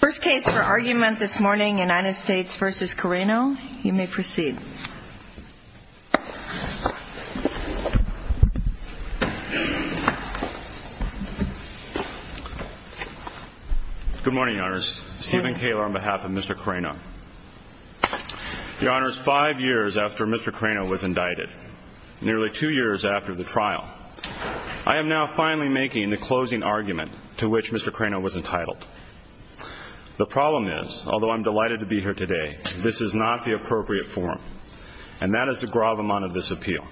First case for argument this morning, United States v. Carreno. You may proceed. Good morning, Your Honors. Stephen Kaler on behalf of Mr. Carreno. Your Honors, five years after Mr. Carreno was indicted, nearly two years after the trial, I am now finally making the closing argument to which Mr. Carreno was entitled. The problem is, although I am delighted to be here today, this is not the appropriate form, and that is the gravamonte of this appeal.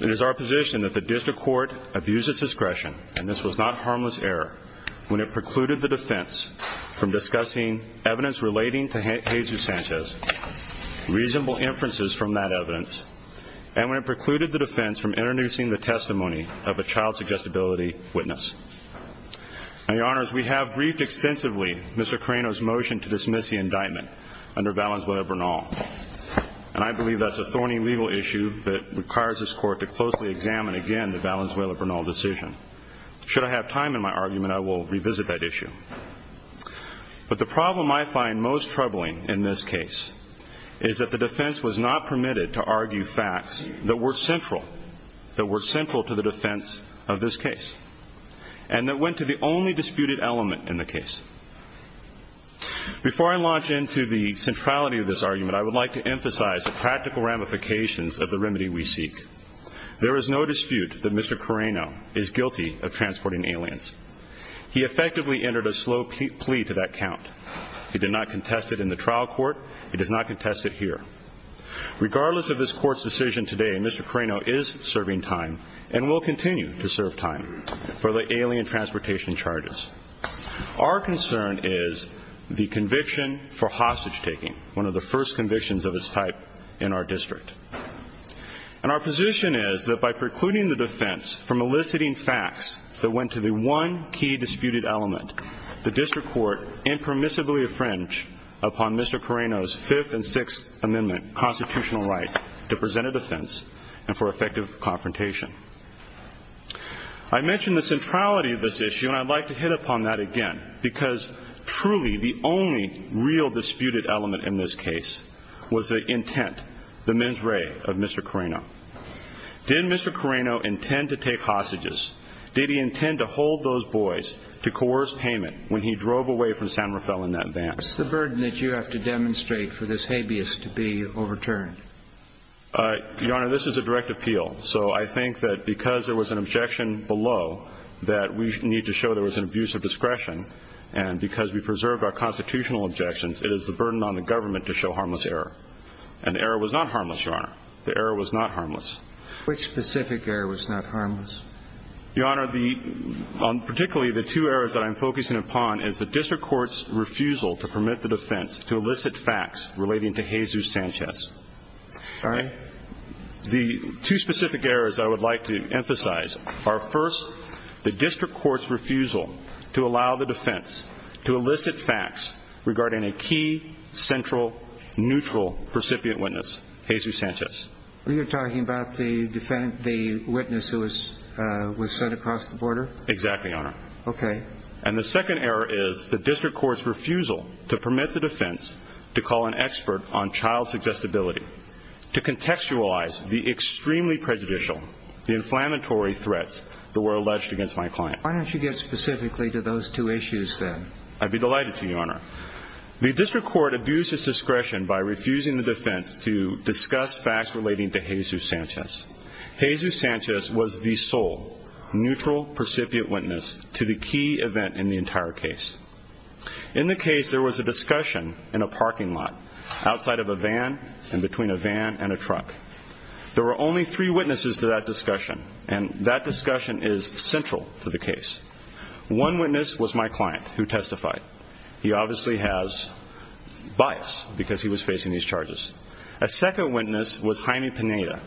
It is our position that the District Court abused its discretion, and this was not harmless error, when it precluded the defense from discussing evidence relating to Jesus Sanchez, reasonable inferences from that evidence, and when it precluded the defense from introducing the testimony of a child-suggestibility witness. Now, Your Honors, we have briefed extensively Mr. Carreno's motion to dismiss the indictment under Valenzuela-Bernal, and I believe that's a thorny legal issue that requires this Court to closely examine again the Valenzuela-Bernal decision. Should I have time in my argument, I will revisit that issue. But the problem I find most troubling in this case is that the defense was not permitted to argue facts that were central, that were central to the defense of this case, and that went to the only disputed element in the case. Before I launch into the centrality of this argument, I would like to emphasize the practical ramifications of the remedy we seek. There is no dispute that Mr. Carreno is guilty of transporting aliens. He effectively entered a slow plea to that count. He did not contest it in the trial court. He does not contest it here. Regardless of this Court's decision today, Mr. Carreno is serving time and will continue to serve time for the alien transportation charges. Our concern is the conviction for hostage-taking, one of the first convictions of its type in our district. And our position is that by precluding the defense from eliciting facts that went to the one key disputed element, the district court impermissibly infringed upon Mr. Carreno's Fifth and Sixth Amendment constitutional right to present a defense and for effective confrontation. I mentioned the centrality of this issue, and I'd like to hit upon that again, because truly the only real disputed element in this case was the intent, the mens rea, of Mr. Carreno. Did Mr. Carreno intend to take hostages? Did he intend to hold those boys to coerce payment when he drove away from San Rafael in that van? What's the burden that you have to demonstrate for this habeas to be overturned? Your Honor, this is a direct appeal. So I think that because there was an objection below that we need to show there was an abuse of discretion, and because we preserved our constitutional objections, it is the burden on the government to show harmless error. And the error was not harmless, Your Honor. The error was not harmless. Which specific error was not harmless? Your Honor, particularly the two errors that I'm focusing upon is the district court's refusal to permit the defense to elicit facts relating to Jesus Sanchez. Sorry? The two specific errors I would like to emphasize are, first, the district court's refusal to allow the defense to elicit facts regarding a key, central, neutral, recipient witness, Jesus Sanchez. You're talking about the witness who was sent across the border? Exactly, Your Honor. Okay. And the second error is the district court's refusal to permit the defense to call an expert on child suggestibility to contextualize the extremely prejudicial, the inflammatory threats that were alleged against my client. Why don't you get specifically to those two issues then? I'd be delighted to, Your Honor. The district court abused its discretion by refusing the defense to discuss facts relating to Jesus Sanchez. Jesus Sanchez was the sole, neutral, recipient witness to the key event in the entire case. In the case, there was a discussion in a parking lot outside of a van and between a van and a truck. There were only three witnesses to that discussion, and that discussion is central to the case. One witness was my client who testified. He obviously has bias because he was facing these charges. A second witness was Jaime Pineda,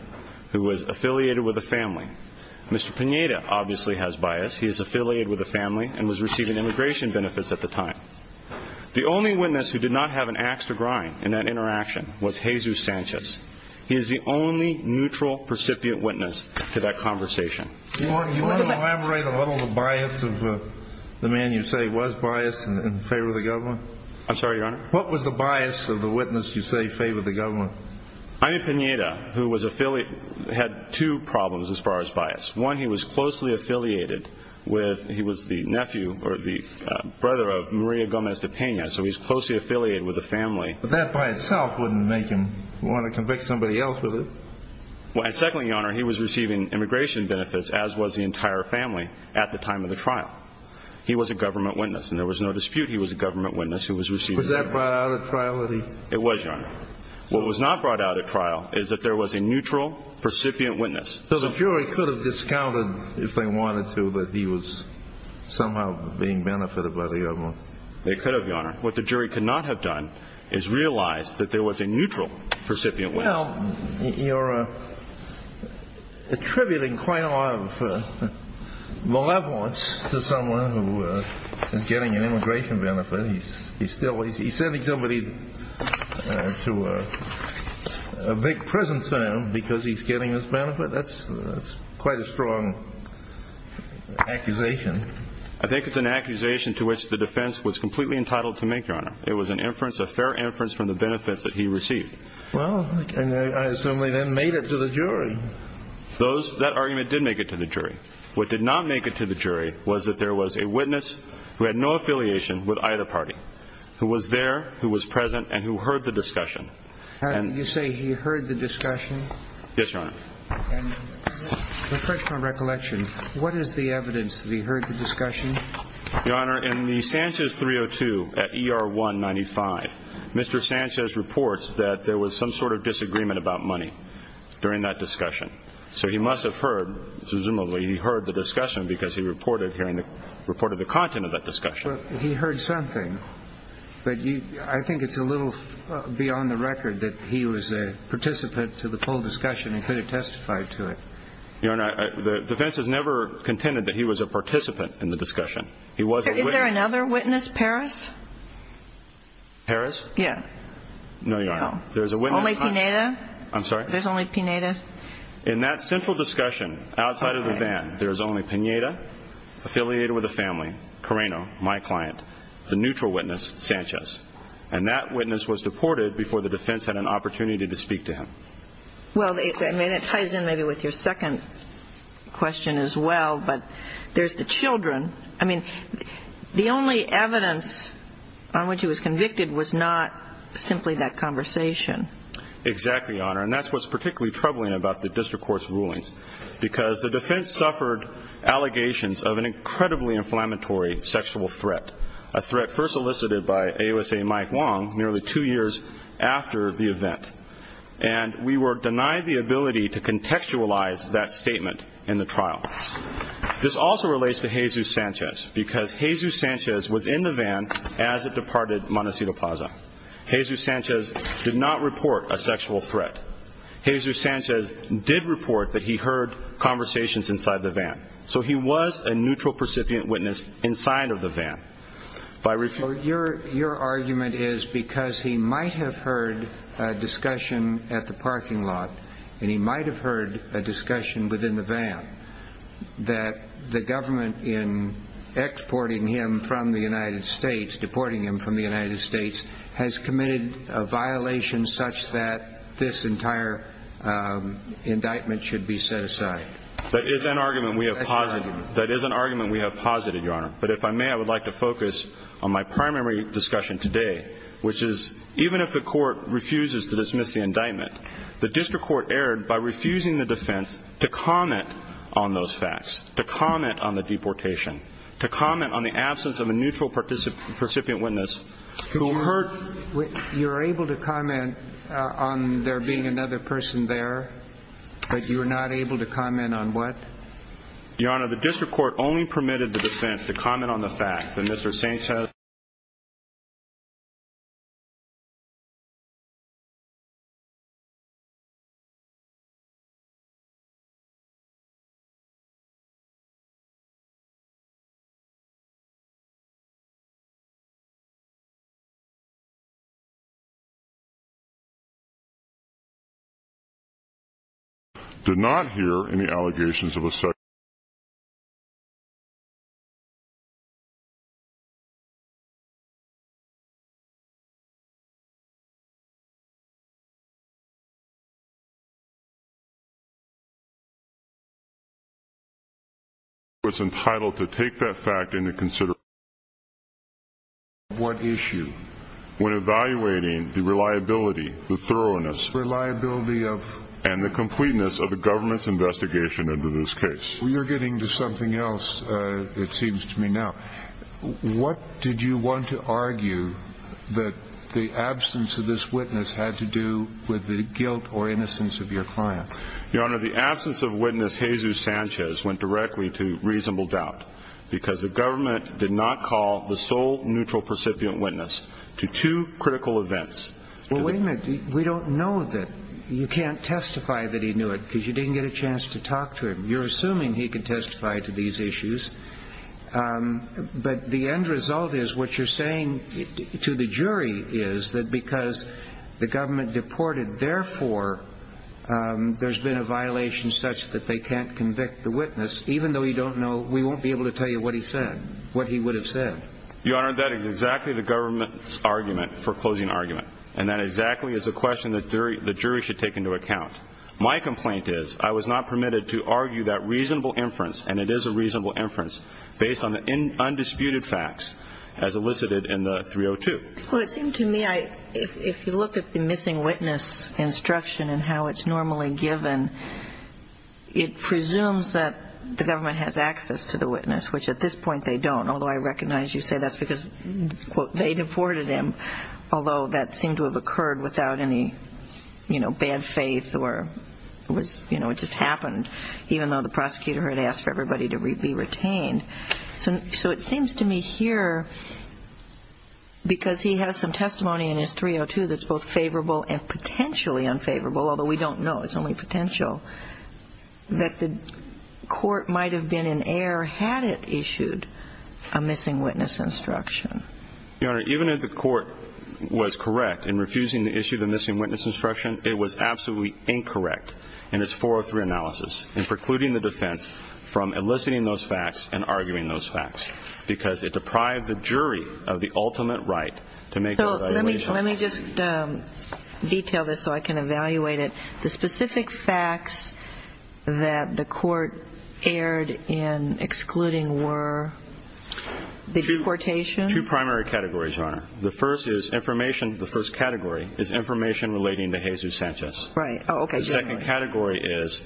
who was affiliated with a family. Mr. Pineda obviously has bias. He is affiliated with a family and was receiving immigration benefits at the time. The only witness who did not have an ax to grind in that interaction was Jesus Sanchez. He is the only neutral, recipient witness to that conversation. Your Honor, can you elaborate a little on the bias of the man you say was biased in favor of the government? I'm sorry, Your Honor? What was the bias of the witness you say favored the government? Jaime Pineda, who was affiliated, had two problems as far as bias. One, he was closely affiliated with, he was the nephew or the brother of Maria Gomez de Pena, so he's closely affiliated with a family. But that by itself wouldn't make him want to convict somebody else with it. And secondly, Your Honor, he was receiving immigration benefits, as was the entire family, at the time of the trial. He was a government witness, and there was no dispute he was a government witness who was receiving. Was that brought out at trial? It was, Your Honor. What was not brought out at trial is that there was a neutral, recipient witness. So the jury could have discounted, if they wanted to, that he was somehow being benefited by the government? They could have, Your Honor. What the jury could not have done is realize that there was a neutral, recipient witness. Well, you're attributing quite a lot of malevolence to someone who is getting an immigration benefit. He's sending somebody to make presents at him because he's getting this benefit. That's quite a strong accusation. I think it's an accusation to which the defense was completely entitled to make, Your Honor. It was an inference, a fair inference, from the benefits that he received. Well, I assume they then made it to the jury. That argument did make it to the jury. What did not make it to the jury was that there was a witness who had no affiliation with either party, who was there, who was present, and who heard the discussion. You say he heard the discussion? Yes, Your Honor. Reflecting on recollection, what is the evidence that he heard the discussion? Your Honor, in the Sanchez 302 at ER 195, Mr. Sanchez reports that there was some sort of disagreement about money during that discussion. So he must have heard, presumably he heard the discussion because he reported the content of that discussion. He heard something, but I think it's a little beyond the record that he was a participant to the whole discussion and could have testified to it. Your Honor, the defense has never contended that he was a participant in the discussion. Is there another witness, Parris? Parris? Yes. No, Your Honor. Only Pineda? I'm sorry? There's only Pineda? In that central discussion, outside of the van, there's only Pineda, affiliated with the family, Carreno, my client, the neutral witness, Sanchez. And that witness was deported before the defense had an opportunity to speak to him. Well, it ties in maybe with your second question as well, but there's the children. I mean, the only evidence on which he was convicted was not simply that conversation. Exactly, Your Honor, and that's what's particularly troubling about the district court's rulings because the defense suffered allegations of an incredibly inflammatory sexual threat, a threat first elicited by AOSA Mike Wong nearly two years after the event. And we were denied the ability to contextualize that statement in the trial. This also relates to Jesus Sanchez because Jesus Sanchez was in the van as it departed Montecito Plaza. Jesus Sanchez did not report a sexual threat. Jesus Sanchez did report that he heard conversations inside the van. So he was a neutral percipient witness inside of the van. Your argument is because he might have heard a discussion at the parking lot and he might have heard a discussion within the van that the government in exporting him from the United States, deporting him from the United States, has committed a violation such that this entire indictment should be set aside. That is an argument we have posited, Your Honor. But if I may, I would like to focus on my primary discussion today, which is even if the court refuses to dismiss the indictment, the district court erred by refusing the defense to comment on those facts, to comment on the deportation, to comment on the absence of a neutral percipient witness who heard... You were able to comment on there being another person there, but you were not able to comment on what? Your Honor, the district court only permitted the defense to comment on the fact that Mr. Sanchez... ...did not hear any allegations of a sexual... ...was entitled to take that fact into consideration... ...what issue... ...when evaluating the reliability, the thoroughness... ...reliability of... ...and the completeness of the government's investigation into this case. You're getting to something else, it seems to me now. What did you want to argue that the absence of this witness had to do with the guilt or innocence of your client? Your Honor, the absence of witness Jesus Sanchez went directly to reasonable doubt... ...because the government did not call the sole neutral percipient witness to two critical events. Well, wait a minute. We don't know that. You can't testify that he knew it because you didn't get a chance to talk to him. You're assuming he could testify to these issues. But the end result is what you're saying to the jury is that because the government deported... ...there's been a violation such that they can't convict the witness... ...even though you don't know... ...we won't be able to tell you what he said, what he would have said. Your Honor, that is exactly the government's argument for closing argument. And that exactly is a question that the jury should take into account. My complaint is I was not permitted to argue that reasonable inference... ...and it is a reasonable inference... ...based on the undisputed facts as elicited in the 302. Well, it seemed to me if you look at the missing witness instruction and how it's normally given... ...it presumes that the government has access to the witness, which at this point they don't... ...although I recognize you say that's because, quote, they deported him... ...although that seemed to have occurred without any bad faith or it just happened... ...even though the prosecutor had asked for everybody to be retained. So it seems to me here, because he has some testimony in his 302 that's both favorable and potentially unfavorable... ...although we don't know, it's only potential... ...that the court might have been in error had it issued a missing witness instruction. Your Honor, even if the court was correct in refusing to issue the missing witness instruction... ...it was absolutely incorrect in its 403 analysis... ...from eliciting those facts and arguing those facts... ...because it deprived the jury of the ultimate right to make an evaluation. So let me just detail this so I can evaluate it. The specific facts that the court erred in excluding were the deportation... Two primary categories, Your Honor. The first is information. The first category is information relating to Jesus Sanchez. Right. Oh, okay. The second category is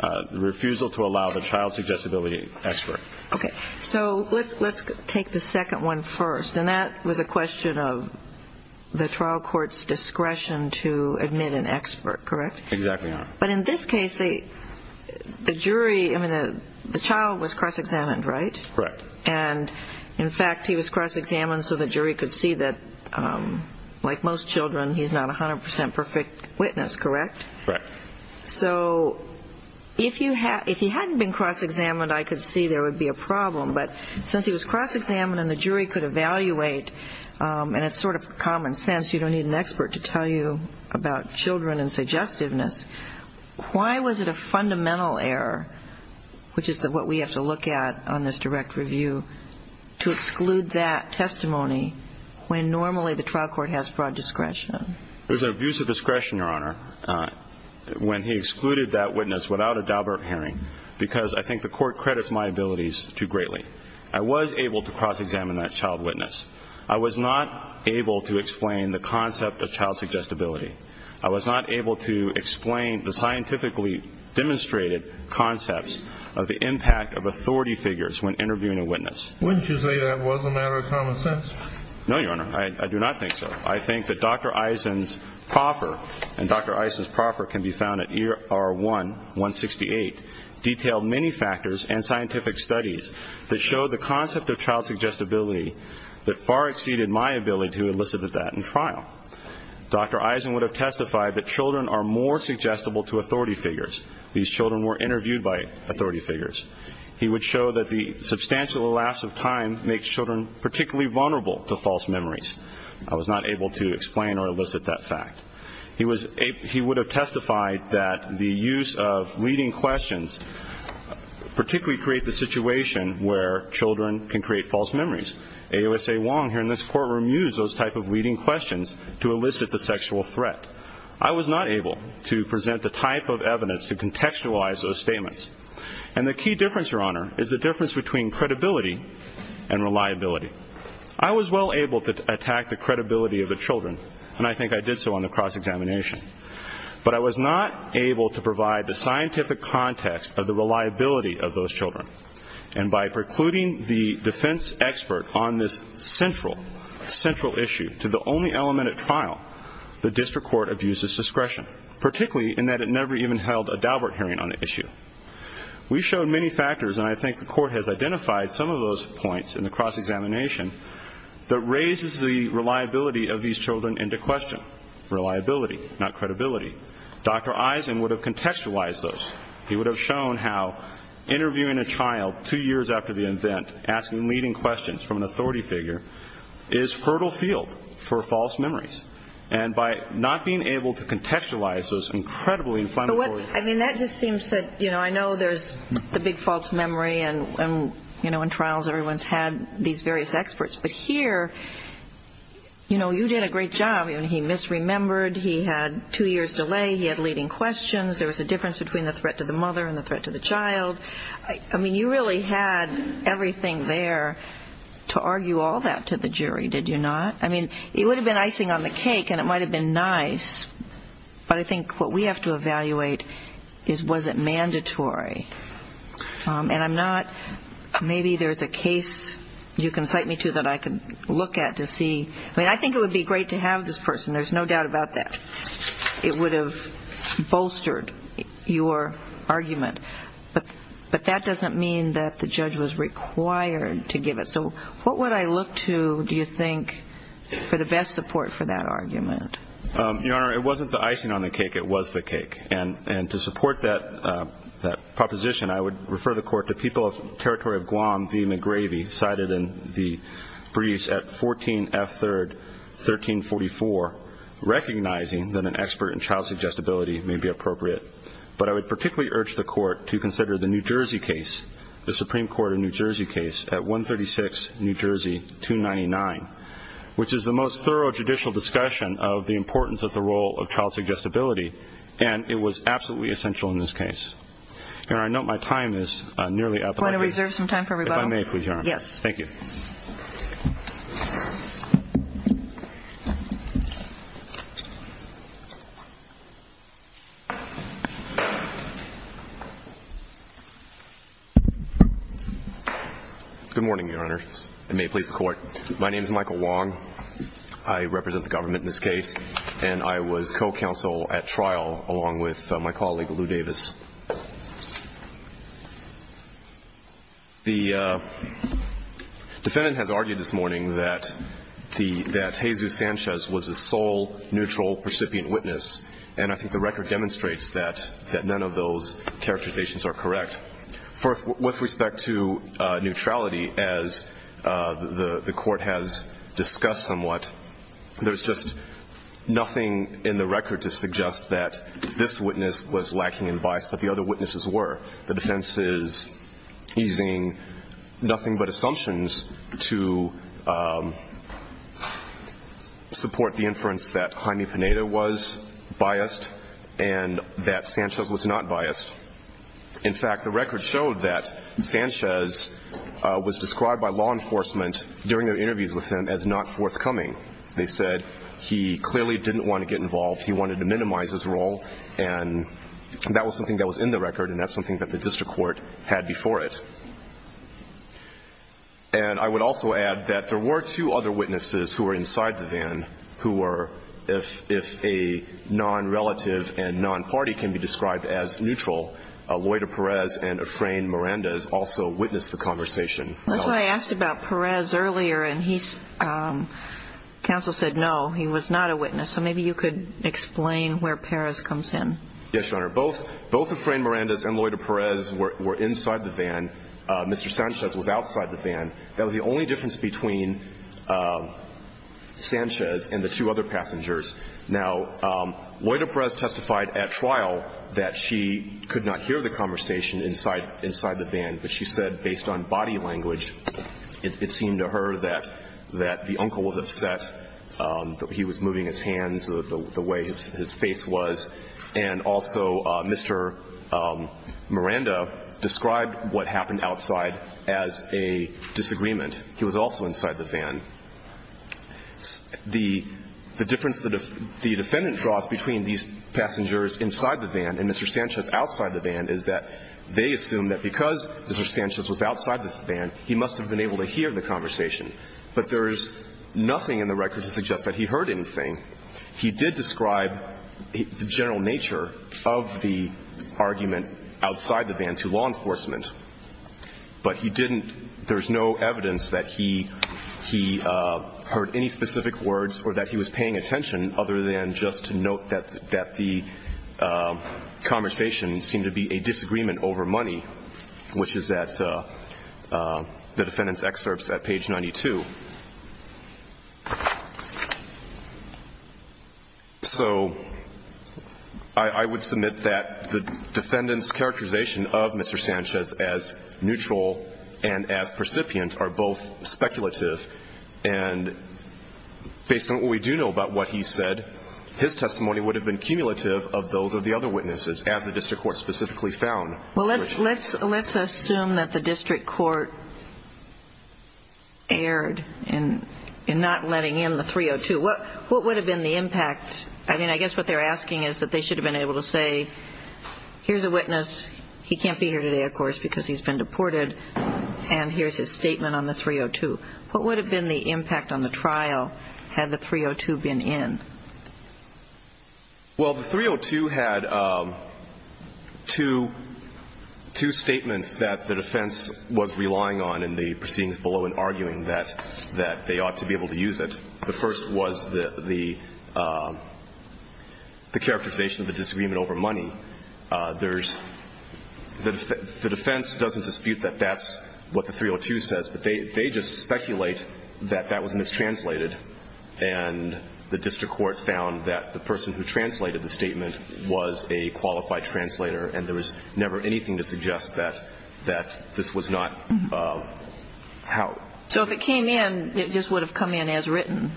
the refusal to allow the child's accessibility expert. Okay. So let's take the second one first. And that was a question of the trial court's discretion to admit an expert, correct? Exactly, Your Honor. But in this case, the jury... I mean, the child was cross-examined, right? Correct. And, in fact, he was cross-examined so the jury could see that, like most children... ...he's not a 100% perfect witness, correct? Correct. So if he hadn't been cross-examined, I could see there would be a problem. But since he was cross-examined and the jury could evaluate, and it's sort of common sense... ...you don't need an expert to tell you about children and suggestiveness... ...why was it a fundamental error, which is what we have to look at on this direct review... ...to exclude that testimony when normally the trial court has broad discretion? It was an abuse of discretion, Your Honor, when he excluded that witness without a Daubert hearing... ...because I think the court credits my abilities too greatly. I was able to cross-examine that child witness. I was not able to explain the concept of child suggestibility. I was not able to explain the scientifically demonstrated concepts... ...of the impact of authority figures when interviewing a witness. Wouldn't you say that was a matter of common sense? No, Your Honor. I do not think so. I think that Dr. Eisen's proffer, and Dr. Eisen's proffer can be found at ER1-168... ...detailed many factors and scientific studies that show the concept of child suggestibility... ...that far exceeded my ability to elicit that in trial. Dr. Eisen would have testified that children are more suggestible to authority figures. These children were interviewed by authority figures. He would show that the substantial elapse of time makes children particularly vulnerable to false memories. I was not able to explain or elicit that fact. He would have testified that the use of leading questions... ...particularly create the situation where children can create false memories. A.O.S.A. Wong here in this courtroom used those type of leading questions to elicit the sexual threat. I was not able to present the type of evidence to contextualize those statements. And the key difference, Your Honor, is the difference between credibility and reliability. I was well able to attack the credibility of the children, and I think I did so on the cross-examination. But I was not able to provide the scientific context of the reliability of those children. And by precluding the defense expert on this central, central issue to the only element at trial... ...the district court abused its discretion, particularly in that it never even held a Daubert hearing on the issue. We showed many factors, and I think the court has identified some of those points in the cross-examination... ...that raises the reliability of these children into question. Reliability, not credibility. Dr. Eisen would have contextualized those. He would have shown how interviewing a child two years after the event, asking leading questions from an authority figure... ...is fertile field for false memories. And by not being able to contextualize those incredibly inflammatory... I mean, that just seems to, you know, I know there's the big false memory, and, you know, in trials... ...everyone's had these various experts. But here, you know, you did a great job. I mean, he misremembered. He had two years' delay. He had leading questions. There was a difference between the threat to the mother and the threat to the child. I mean, you really had everything there to argue all that to the jury, did you not? I mean, it would have been icing on the cake, and it might have been nice. But I think what we have to evaluate is, was it mandatory? And I'm not, maybe there's a case you can cite me to that I can look at to see. I mean, I think it would be great to have this person. There's no doubt about that. It would have bolstered your argument. But that doesn't mean that the judge was required to give it. So what would I look to, do you think, for the best support for that argument? Your Honor, it wasn't the icing on the cake. It was the cake. And to support that proposition, I would refer the Court to People of Territory of Guam v. McGravy, cited in the briefs at 14F3rd 1344, recognizing that an expert in child suggestibility may be appropriate. But I would particularly urge the Court to consider the New Jersey case, the Supreme Court of New Jersey case at 136 New Jersey 299, which is the most thorough judicial discussion of the importance of the role of child suggestibility. And it was absolutely essential in this case. Your Honor, I note my time is nearly up. Do you want to reserve some time for rebuttal? If I may, please, Your Honor. Yes. Thank you. Good morning, Your Honor. It may please the Court. My name is Michael Wong. I represent the government in this case, and I was co-counsel at trial along with my colleague, Lou Davis. The defendant has argued this morning that Jesus Sanchez was the sole neutral percipient witness, and I think the record demonstrates that none of those characterizations are correct. With respect to neutrality, as the Court has discussed somewhat, there's just nothing in the record to suggest that this witness was lacking in bias, but the other witnesses were. The defense is using nothing but assumptions to support the inference that Jaime Pineda was biased and that Sanchez was not biased. In fact, the record showed that Sanchez was described by law enforcement during their interviews with him as not forthcoming. They said he clearly didn't want to get involved. He wanted to minimize his role, and that was something that was in the record, and that's something that the district court had before it. And I would also add that there were two other witnesses who were inside the van who were, if a non-relative and non-party can be described as neutral, Lloyda Perez and Efrain Mirandez also witnessed the conversation. That's why I asked about Perez earlier, and counsel said no, he was not a witness. So maybe you could explain where Perez comes in. Yes, Your Honor. Both Efrain Mirandez and Lloyda Perez were inside the van. Mr. Sanchez was outside the van. That was the only difference between Sanchez and the two other passengers. Now, Lloyda Perez testified at trial that she could not hear the conversation inside the van, but she said based on body language it seemed to her that the uncle was upset, that he was moving his hands the way his face was. And also Mr. Miranda described what happened outside as a disagreement. He was also inside the van. The difference that the defendant draws between these passengers inside the van and Mr. Sanchez outside the van is that they assume that because Mr. Sanchez was outside the van, he must have been able to hear the conversation. But there is nothing in the record to suggest that he heard anything. He did describe the general nature of the argument outside the van to law enforcement. But he didn't – there's no evidence that he heard any specific words or that he was paying attention other than just to note that the conversation seemed to be a disagreement over money, which is at the defendant's excerpts at page 92. So I would submit that the defendant's characterization of Mr. Sanchez as neutral and as percipient are both speculative. And based on what we do know about what he said, his testimony would have been cumulative of those of the other witnesses, as the district court specifically found. Well, let's assume that the district court erred in not letting in the 302. What would have been the impact? I mean, I guess what they're asking is that they should have been able to say, here's a witness, he can't be here today, of course, because he's been deported, and here's his statement on the 302. What would have been the impact on the trial had the 302 been in? Well, the 302 had two statements that the defense was relying on in the proceedings below in arguing that they ought to be able to use it. The first was the characterization of the disagreement over money. There's – the defense doesn't dispute that that's what the 302 says, but they just speculate that that was mistranslated and the district court found that the person who translated the statement was a qualified translator and there was never anything to suggest that this was not how. So if it came in, it just would have come in as written,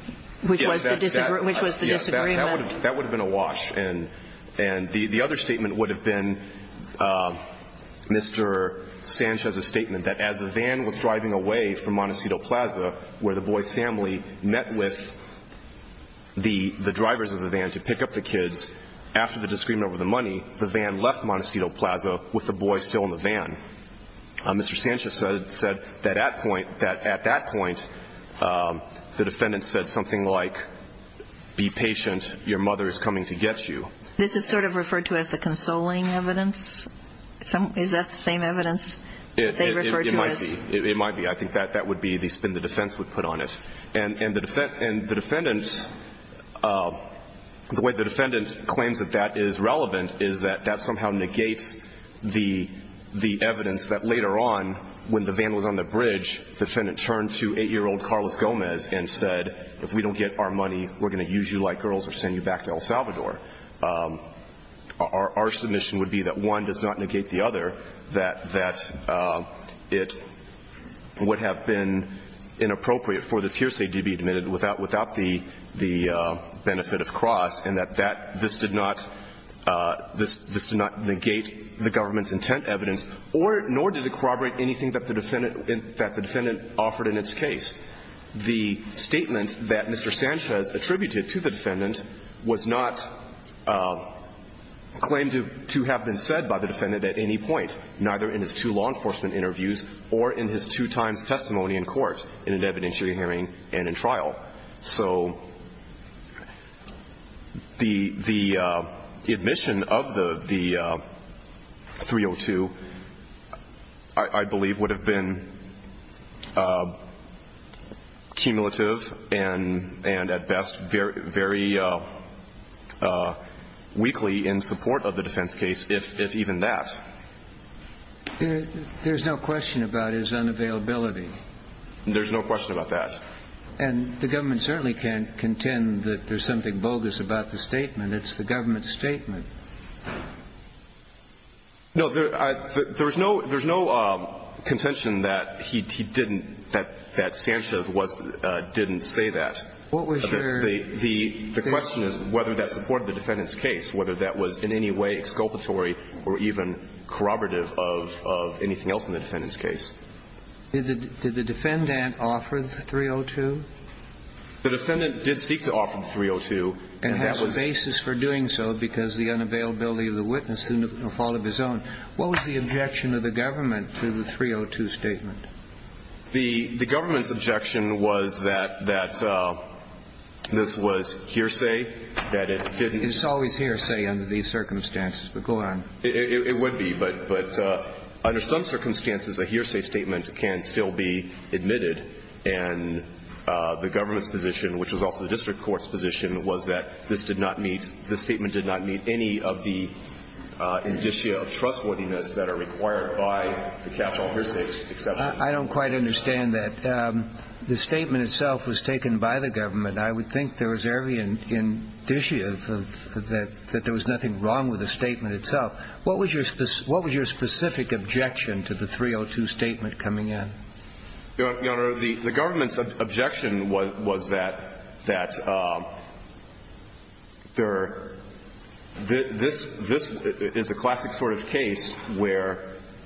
which was the disagreement. Yes, that would have been a wash. And the other statement would have been Mr. Sanchez's statement that as the van was driving away from Montecito Plaza where the boy's family met with the drivers of the van to pick up the kids, after the disagreement over the money, the van left Montecito Plaza with the boy still in the van. Mr. Sanchez said that at that point the defendant said something like, be patient, your mother is coming to get you. This is sort of referred to as the consoling evidence? Is that the same evidence they refer to as? It might be. I think that would be the spin the defense would put on it. And the way the defendant claims that that is relevant is that that somehow negates the evidence that later on, when the van was on the bridge, the defendant turned to 8-year-old Carlos Gomez and said, if we don't get our money, we're going to use you like girls or send you back to El Salvador. Our submission would be that one does not negate the other, that it would have been inappropriate for this hearsay to be admitted without the benefit of cross, and that this did not negate the government's intent evidence, nor did it corroborate anything that the defendant offered in its case. The statement that Mr. Sanchez attributed to the defendant was not claimed to have been said by the defendant at any point, neither in his two law enforcement interviews or in his two times testimony in court in an evidentiary hearing and in trial. So the admission of the 302, I believe, would have been cumulative and at best very weakly in support of the defense case, if even that. There's no question about his unavailability. There's no question about that. And the government certainly can't contend that there's something bogus about the statement. It's the government's statement. No, there's no contention that he didn't, that Sanchez didn't say that. The question is whether that supported the defendant's case, whether that was in any way exculpatory or even corroborative of anything else in the defendant's case. Did the defendant offer the 302? The defendant did seek to offer the 302. And have a basis for doing so because of the unavailability of the witness and the fault of his own. What was the objection of the government to the 302 statement? The government's objection was that this was hearsay, that it didn't. It's always hearsay under these circumstances, but go on. It would be, but under some circumstances a hearsay statement can still be admitted. And the government's position, which was also the district court's position, was that this did not meet, this statement did not meet any of the indicia of trustworthiness that are required by the capital hearsay exception. I don't quite understand that. The statement itself was taken by the government. I would think there was every indicia that there was nothing wrong with the statement itself. What was your specific objection to the 302 statement coming in? Your Honor, the government's objection was that this is a classic sort of case where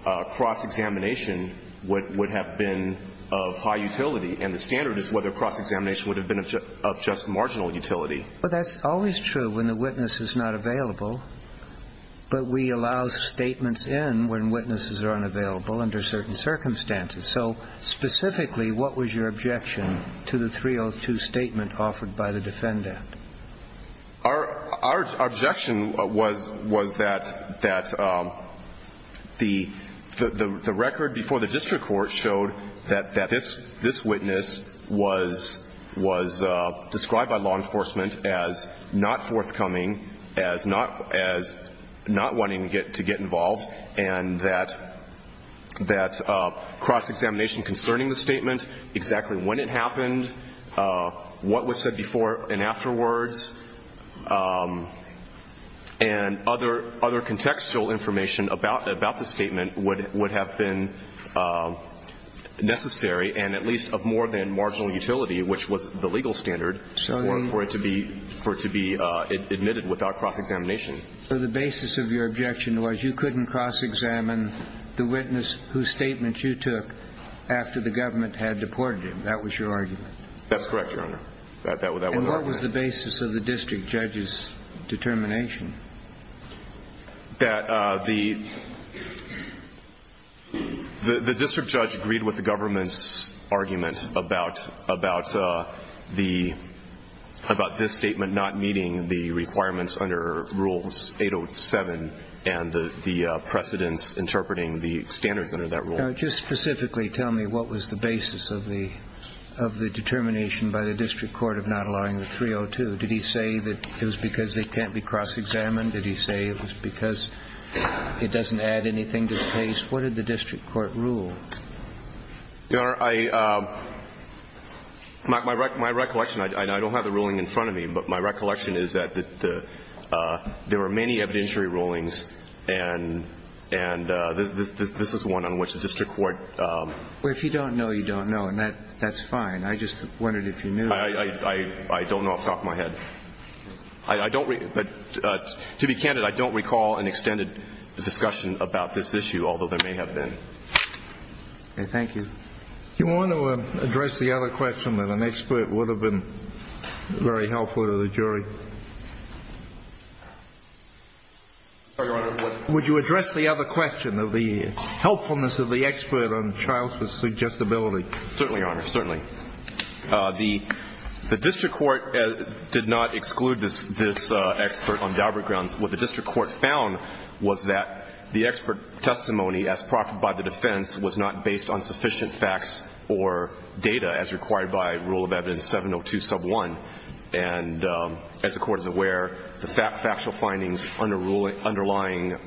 cross-examination would have been of high utility, and the standard is whether Well, that's always true when the witness is not available, but we allow statements in when witnesses are unavailable under certain circumstances. So specifically what was your objection to the 302 statement offered by the defendant? Our objection was that the record before the district court showed that this witness was described by law enforcement as not forthcoming, as not wanting to get involved, and that cross-examination concerning the statement, exactly when it happened, what was said before and afterwards, and other contextual information about the statement would have been necessary and at least of more than marginal utility, which was the legal standard for it to be admitted without cross-examination. So the basis of your objection was you couldn't cross-examine the witness whose statement you took after the government had deported him. That was your argument. That's correct, Your Honor. And what was the basis of the district judge's determination? That the district judge agreed with the government's argument about this statement not meeting the requirements under Rules 807 and the precedents interpreting the standards under that rule. Now, just specifically tell me what was the basis of the determination by the district court of not allowing the 302. Did he say that it was because it can't be cross-examined? Did he say it was because it doesn't add anything to the case? What did the district court rule? Your Honor, my recollection, I don't have the ruling in front of me, but my recollection is that there were many evidentiary rulings, and this is one on which the district court ---- Well, if you don't know, you don't know, and that's fine. I just wondered if you knew. I don't know off the top of my head. To be candid, I don't recall an extended discussion about this issue, although there may have been. Okay. Thank you. Do you want to address the other question that an expert would have been very helpful to the jury? Would you address the other question of the helpfulness of the expert on child suggestibility? Certainly, Your Honor. Certainly. The district court did not exclude this expert on Daubert grounds. What the district court found was that the expert testimony as proffered by the defense was not based on sufficient facts or data as required by Rule of Evidence 702, Sub 1. And as the Court is aware, the factual findings underlying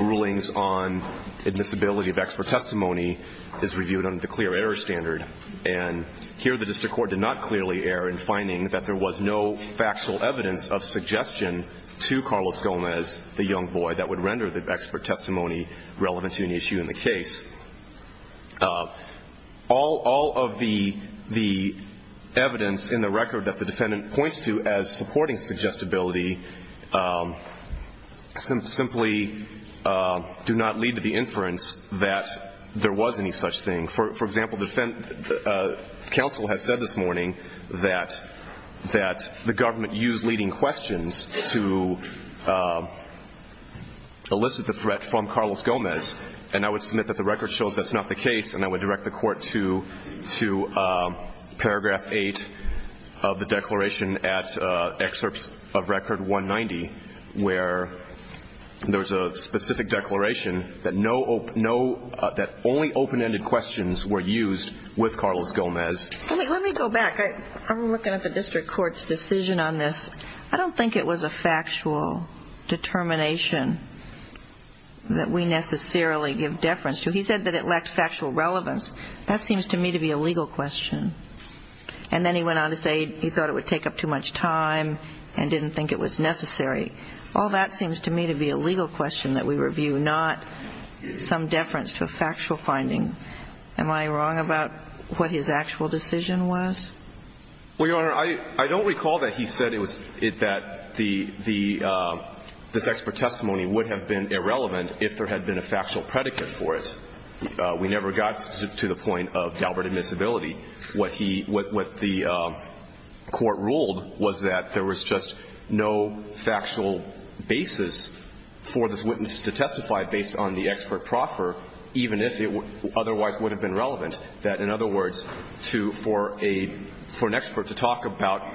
rulings on admissibility of expert testimony is reviewed under the clear error standard. And here the district court did not clearly err in finding that there was no factual evidence of suggestion to Carlos Gomez, the young boy, that would render the expert testimony relevant to an issue in the case. All of the evidence in the record that the defendant points to as supporting suggestibility simply do not lead to the inference that there was any such thing. For example, counsel has said this morning that the government used leading questions to elicit the threat from Carlos Gomez. And I would submit that the record shows that's not the case, and I would direct the Court to Paragraph 8 of the declaration at Excerpts of Record 190, where there was a specific declaration that only open-ended questions were used with Carlos Gomez. Let me go back. I'm looking at the district court's decision on this. I don't think it was a factual determination that we necessarily give deference to. He said that it lacked factual relevance. That seems to me to be a legal question. And then he went on to say he thought it would take up too much time and didn't think it was necessary. All that seems to me to be a legal question that we review, not some deference to a factual finding. Am I wrong about what his actual decision was? Well, Your Honor, I don't recall that he said that this expert testimony would have been irrelevant if there had been a factual predicate for it. We never got to the point of Galbraith admissibility. What the Court ruled was that there was just no factual basis for this witness to testify based on the expert proffer, even if it otherwise would have been relevant. That, in other words, for an expert to talk about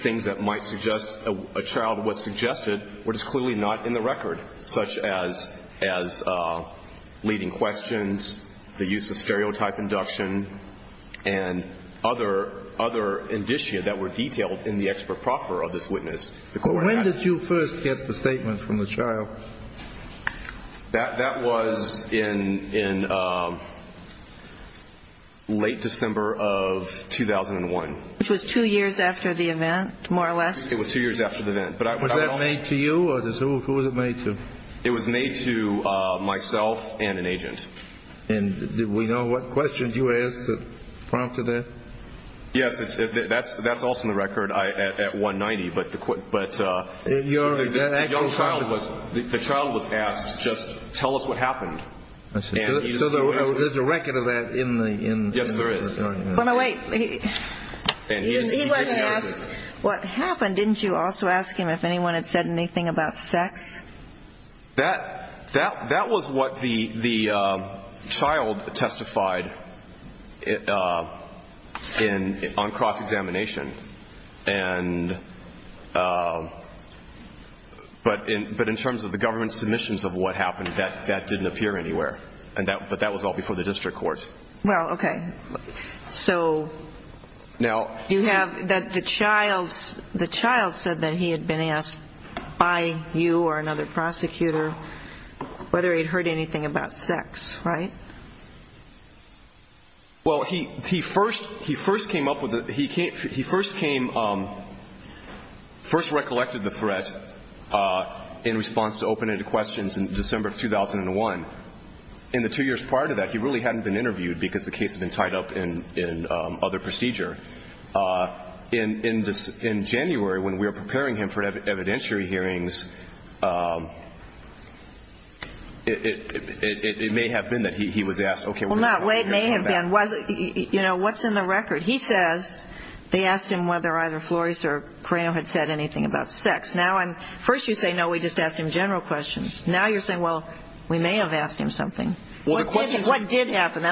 things that might suggest a child was suggested, what is clearly not in the record, such as leading questions, the use of stereotype induction, and other indicia that were detailed in the expert proffer of this witness. When did you first get the statement from the child? That was in late December of 2001. Which was two years after the event, more or less? It was two years after the event. Was that made to you, or who was it made to? It was made to myself and an agent. And do we know what questions you asked that prompted that? Yes, that's also in the record at 190. The child was asked, just tell us what happened. So there's a record of that in the record? Yes, there is. But wait, he wasn't asked what happened. Didn't you also ask him if anyone had said anything about sex? That was what the child testified on cross-examination. But in terms of the government submissions of what happened, that didn't appear anywhere. But that was all before the district court. Well, okay. So you have that the child said that he had been asked by you or another prosecutor whether he had heard anything about sex, right? Well, he first came up with it. He first came, first recollected the threat in response to open-ended questions in December of 2001. And the two years prior to that, he really hadn't been interviewed because the case had been tied up in other procedure. In January, when we were preparing him for evidentiary hearings, it may have been that he was asked, okay, we're going to have to come back. Well, no, it may have been. You know, what's in the record? He says they asked him whether either Flores or Creno had said anything about sex. Now, first you say, no, we just asked him general questions. Now you're saying, well, we may have asked him something. What did happen?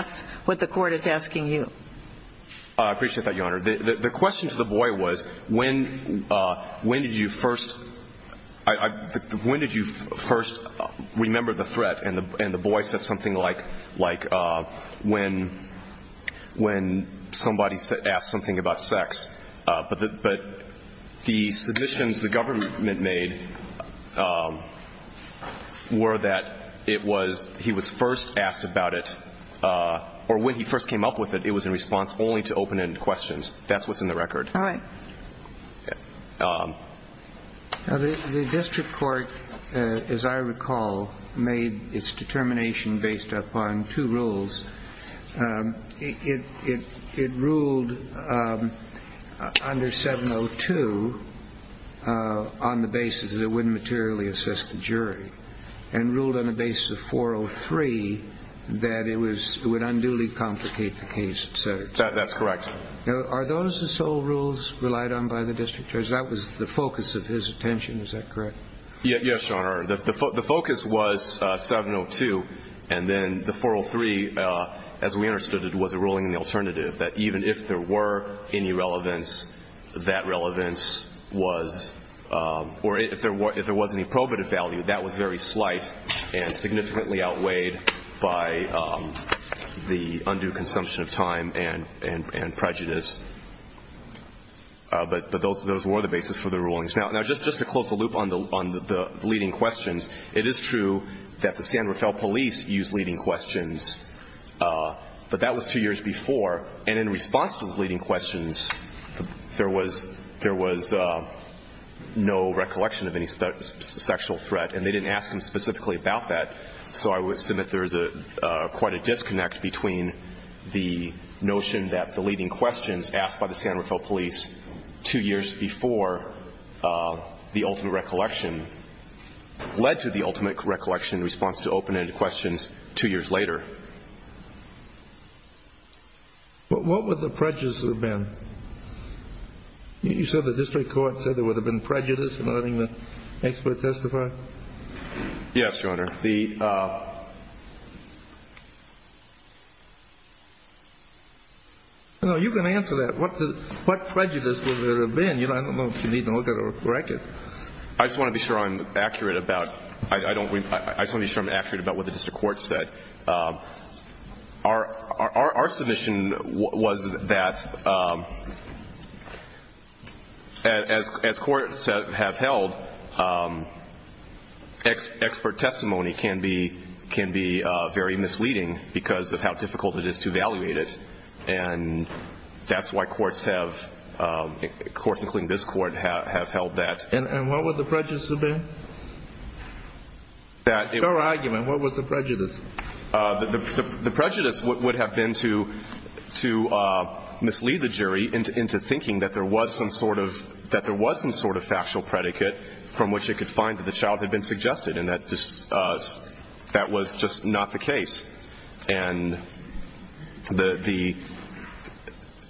I appreciate that, Your Honor. The question to the boy was, when did you first remember the threat? And the boy said something like, when somebody asked something about sex. But the submissions the government made were that he was first asked about it or when he first came up with it, it was in response only to open-ended questions. That's what's in the record. All right. The district court, as I recall, made its determination based upon two rules. It ruled under 702 on the basis that it wouldn't materially assess the jury and ruled on the basis of 403 that it would unduly complicate the case itself. That's correct. Are those the sole rules relied on by the district judge? That was the focus of his attention. Is that correct? Yes, Your Honor. The focus was 702, and then the 403, as we understood it, was a ruling in the alternative, that even if there were any relevance, that relevance was or if there was any probative value, that was very slight and significantly outweighed by the undue consumption of time and prejudice. But those were the basis for the rulings. Now, just to close the loop on the leading questions, it is true that the San Rafael police used leading questions, but that was two years before. And in response to those leading questions, there was no recollection of any sexual threat, and they didn't ask him specifically about that. So I would assume that there is quite a disconnect between the notion that the leading questions asked by the San Rafael police two years before the ultimate recollection led to the ultimate recollection response to open-ended questions two years later. What would the prejudice have been? You said the district court said there would have been prejudice in letting the expert testify? Yes, Your Honor. No, you can answer that. What prejudice would there have been? I don't know if you need to look at a record. I just want to be sure I'm accurate about what the district court said. Our submission was that, as courts have held, expert testimony can be very misleading because of how difficult it is to evaluate it. And that's why courts, including this court, have held that. And what would the prejudice have been? Your argument, what was the prejudice? The prejudice would have been to mislead the jury into thinking that there was some sort of factual predicate from which it could find that the child had been suggested, and that was just not the case. And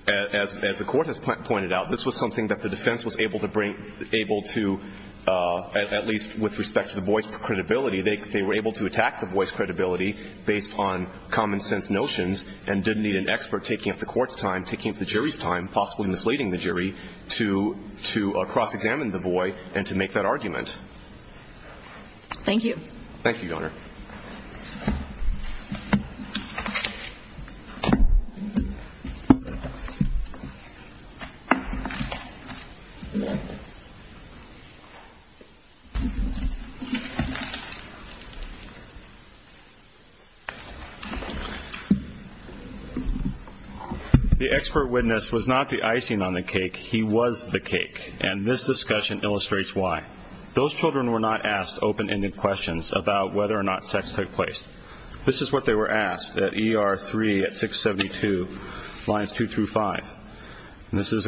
as the court has pointed out, this was something that the defense was able to, at least with respect to the boy's credibility, they were able to attack the boy's credibility based on common sense notions and didn't need an expert taking up the court's time, taking up the jury's time, possibly misleading the jury to cross-examine the boy and to make that argument. Thank you. Thank you, Your Honor. Thank you. The expert witness was not the icing on the cake. He was the cake, and this discussion illustrates why. Those children were not asked open-ended questions about whether or not sex took place. This is what they were asked at ER 3 at 672 lines 2 through 5. And this is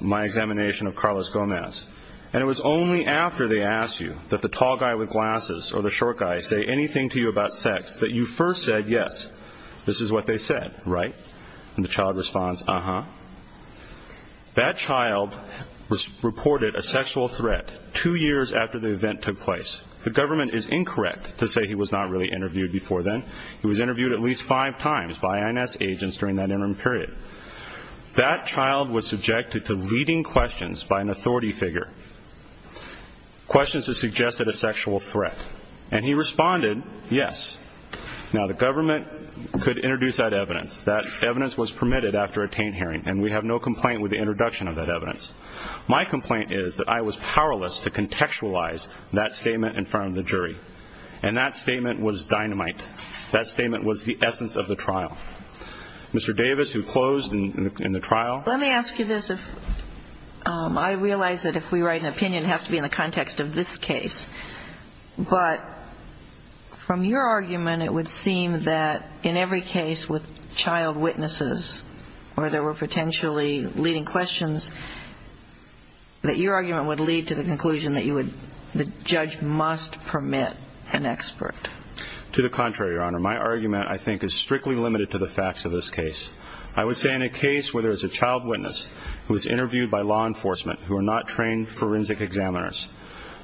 my examination of Carlos Gomez. And it was only after they asked you that the tall guy with glasses or the short guy say anything to you about sex that you first said yes, this is what they said, right? And the child responds, uh-huh. That child reported a sexual threat two years after the event took place. The government is incorrect to say he was not really interviewed before then. He was interviewed at least five times by INS agents during that interim period. That child was subjected to leading questions by an authority figure, questions that suggested a sexual threat. And he responded yes. Now, the government could introduce that evidence. That evidence was permitted after a taint hearing, and we have no complaint with the introduction of that evidence. My complaint is that I was powerless to contextualize that statement in front of the jury. And that statement was dynamite. That statement was the essence of the trial. Mr. Davis, who closed in the trial. Let me ask you this. I realize that if we write an opinion, it has to be in the context of this case. But from your argument, it would seem that in every case with child witnesses where there were potentially leading questions, that your argument would lead to the conclusion that the judge must permit an expert. To the contrary, Your Honor. My argument, I think, is strictly limited to the facts of this case. I would say in a case where there is a child witness who is interviewed by law enforcement, who are not trained forensic examiners,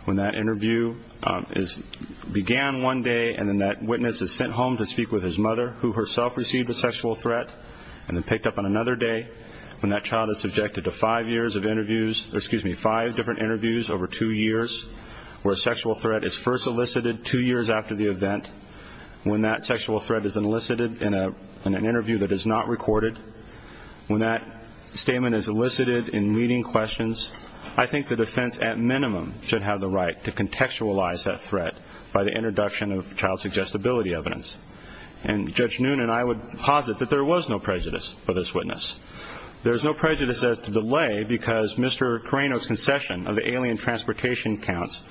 when that interview began one day and then that witness is sent home to speak with his mother, who herself received a sexual threat, and then picked up on another day when that child is subjected to five years of interviews, or excuse me, five different interviews over two years, where a sexual threat is first elicited two years after the event, when that sexual threat is elicited in an interview that is not recorded, when that statement is elicited in leading questions, I think the defense at minimum should have the right to contextualize that threat by the introduction of child suggestibility evidence. And Judge Noon and I would posit that there was no prejudice for this witness. There is no prejudice as to delay because Mr. Carreno's concession of the alien transportation counts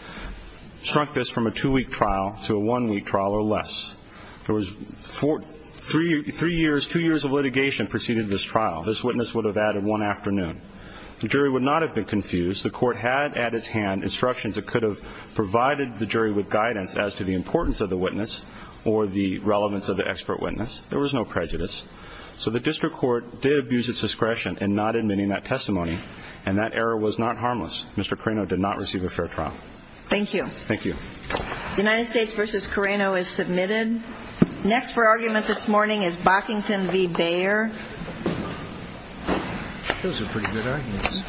shrunk this from a two-week trial to a one-week trial or less. There was three years, two years of litigation preceded this trial. This witness would have added one afternoon. The jury would not have been confused. The court had at its hand instructions that could have provided the jury with guidance as to the importance of the witness or the relevance of the expert witness. There was no prejudice. So the district court did abuse its discretion in not admitting that testimony, and that error was not harmless. Mr. Carreno did not receive a fair trial. Thank you. Thank you. The United States v. Carreno is submitted. Next for argument this morning is Bockington v. Bayer. Those are pretty good arguments.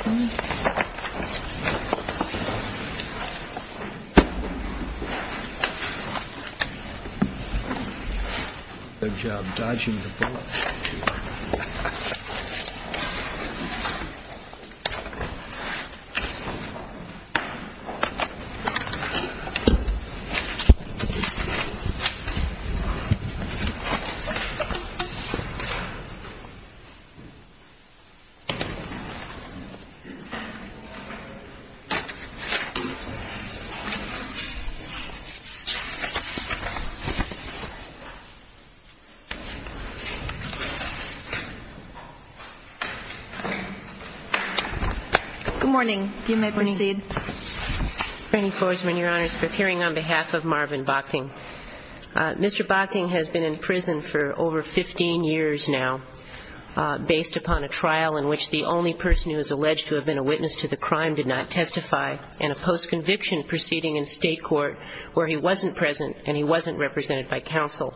Good job dodging the bullet. Thank you. Good morning. You may proceed. Franny Forsman, Your Honors, appearing on behalf of Marvin Bockington. Mr. Bockington has been in prison for over 15 years now based upon a trial in which the only person who is alleged to have been a witness to the crime did not testify and a post-conviction proceeding in state court where he wasn't present and he wasn't represented by counsel.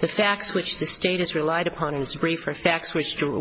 The facts which the State has relied upon in its brief are facts which were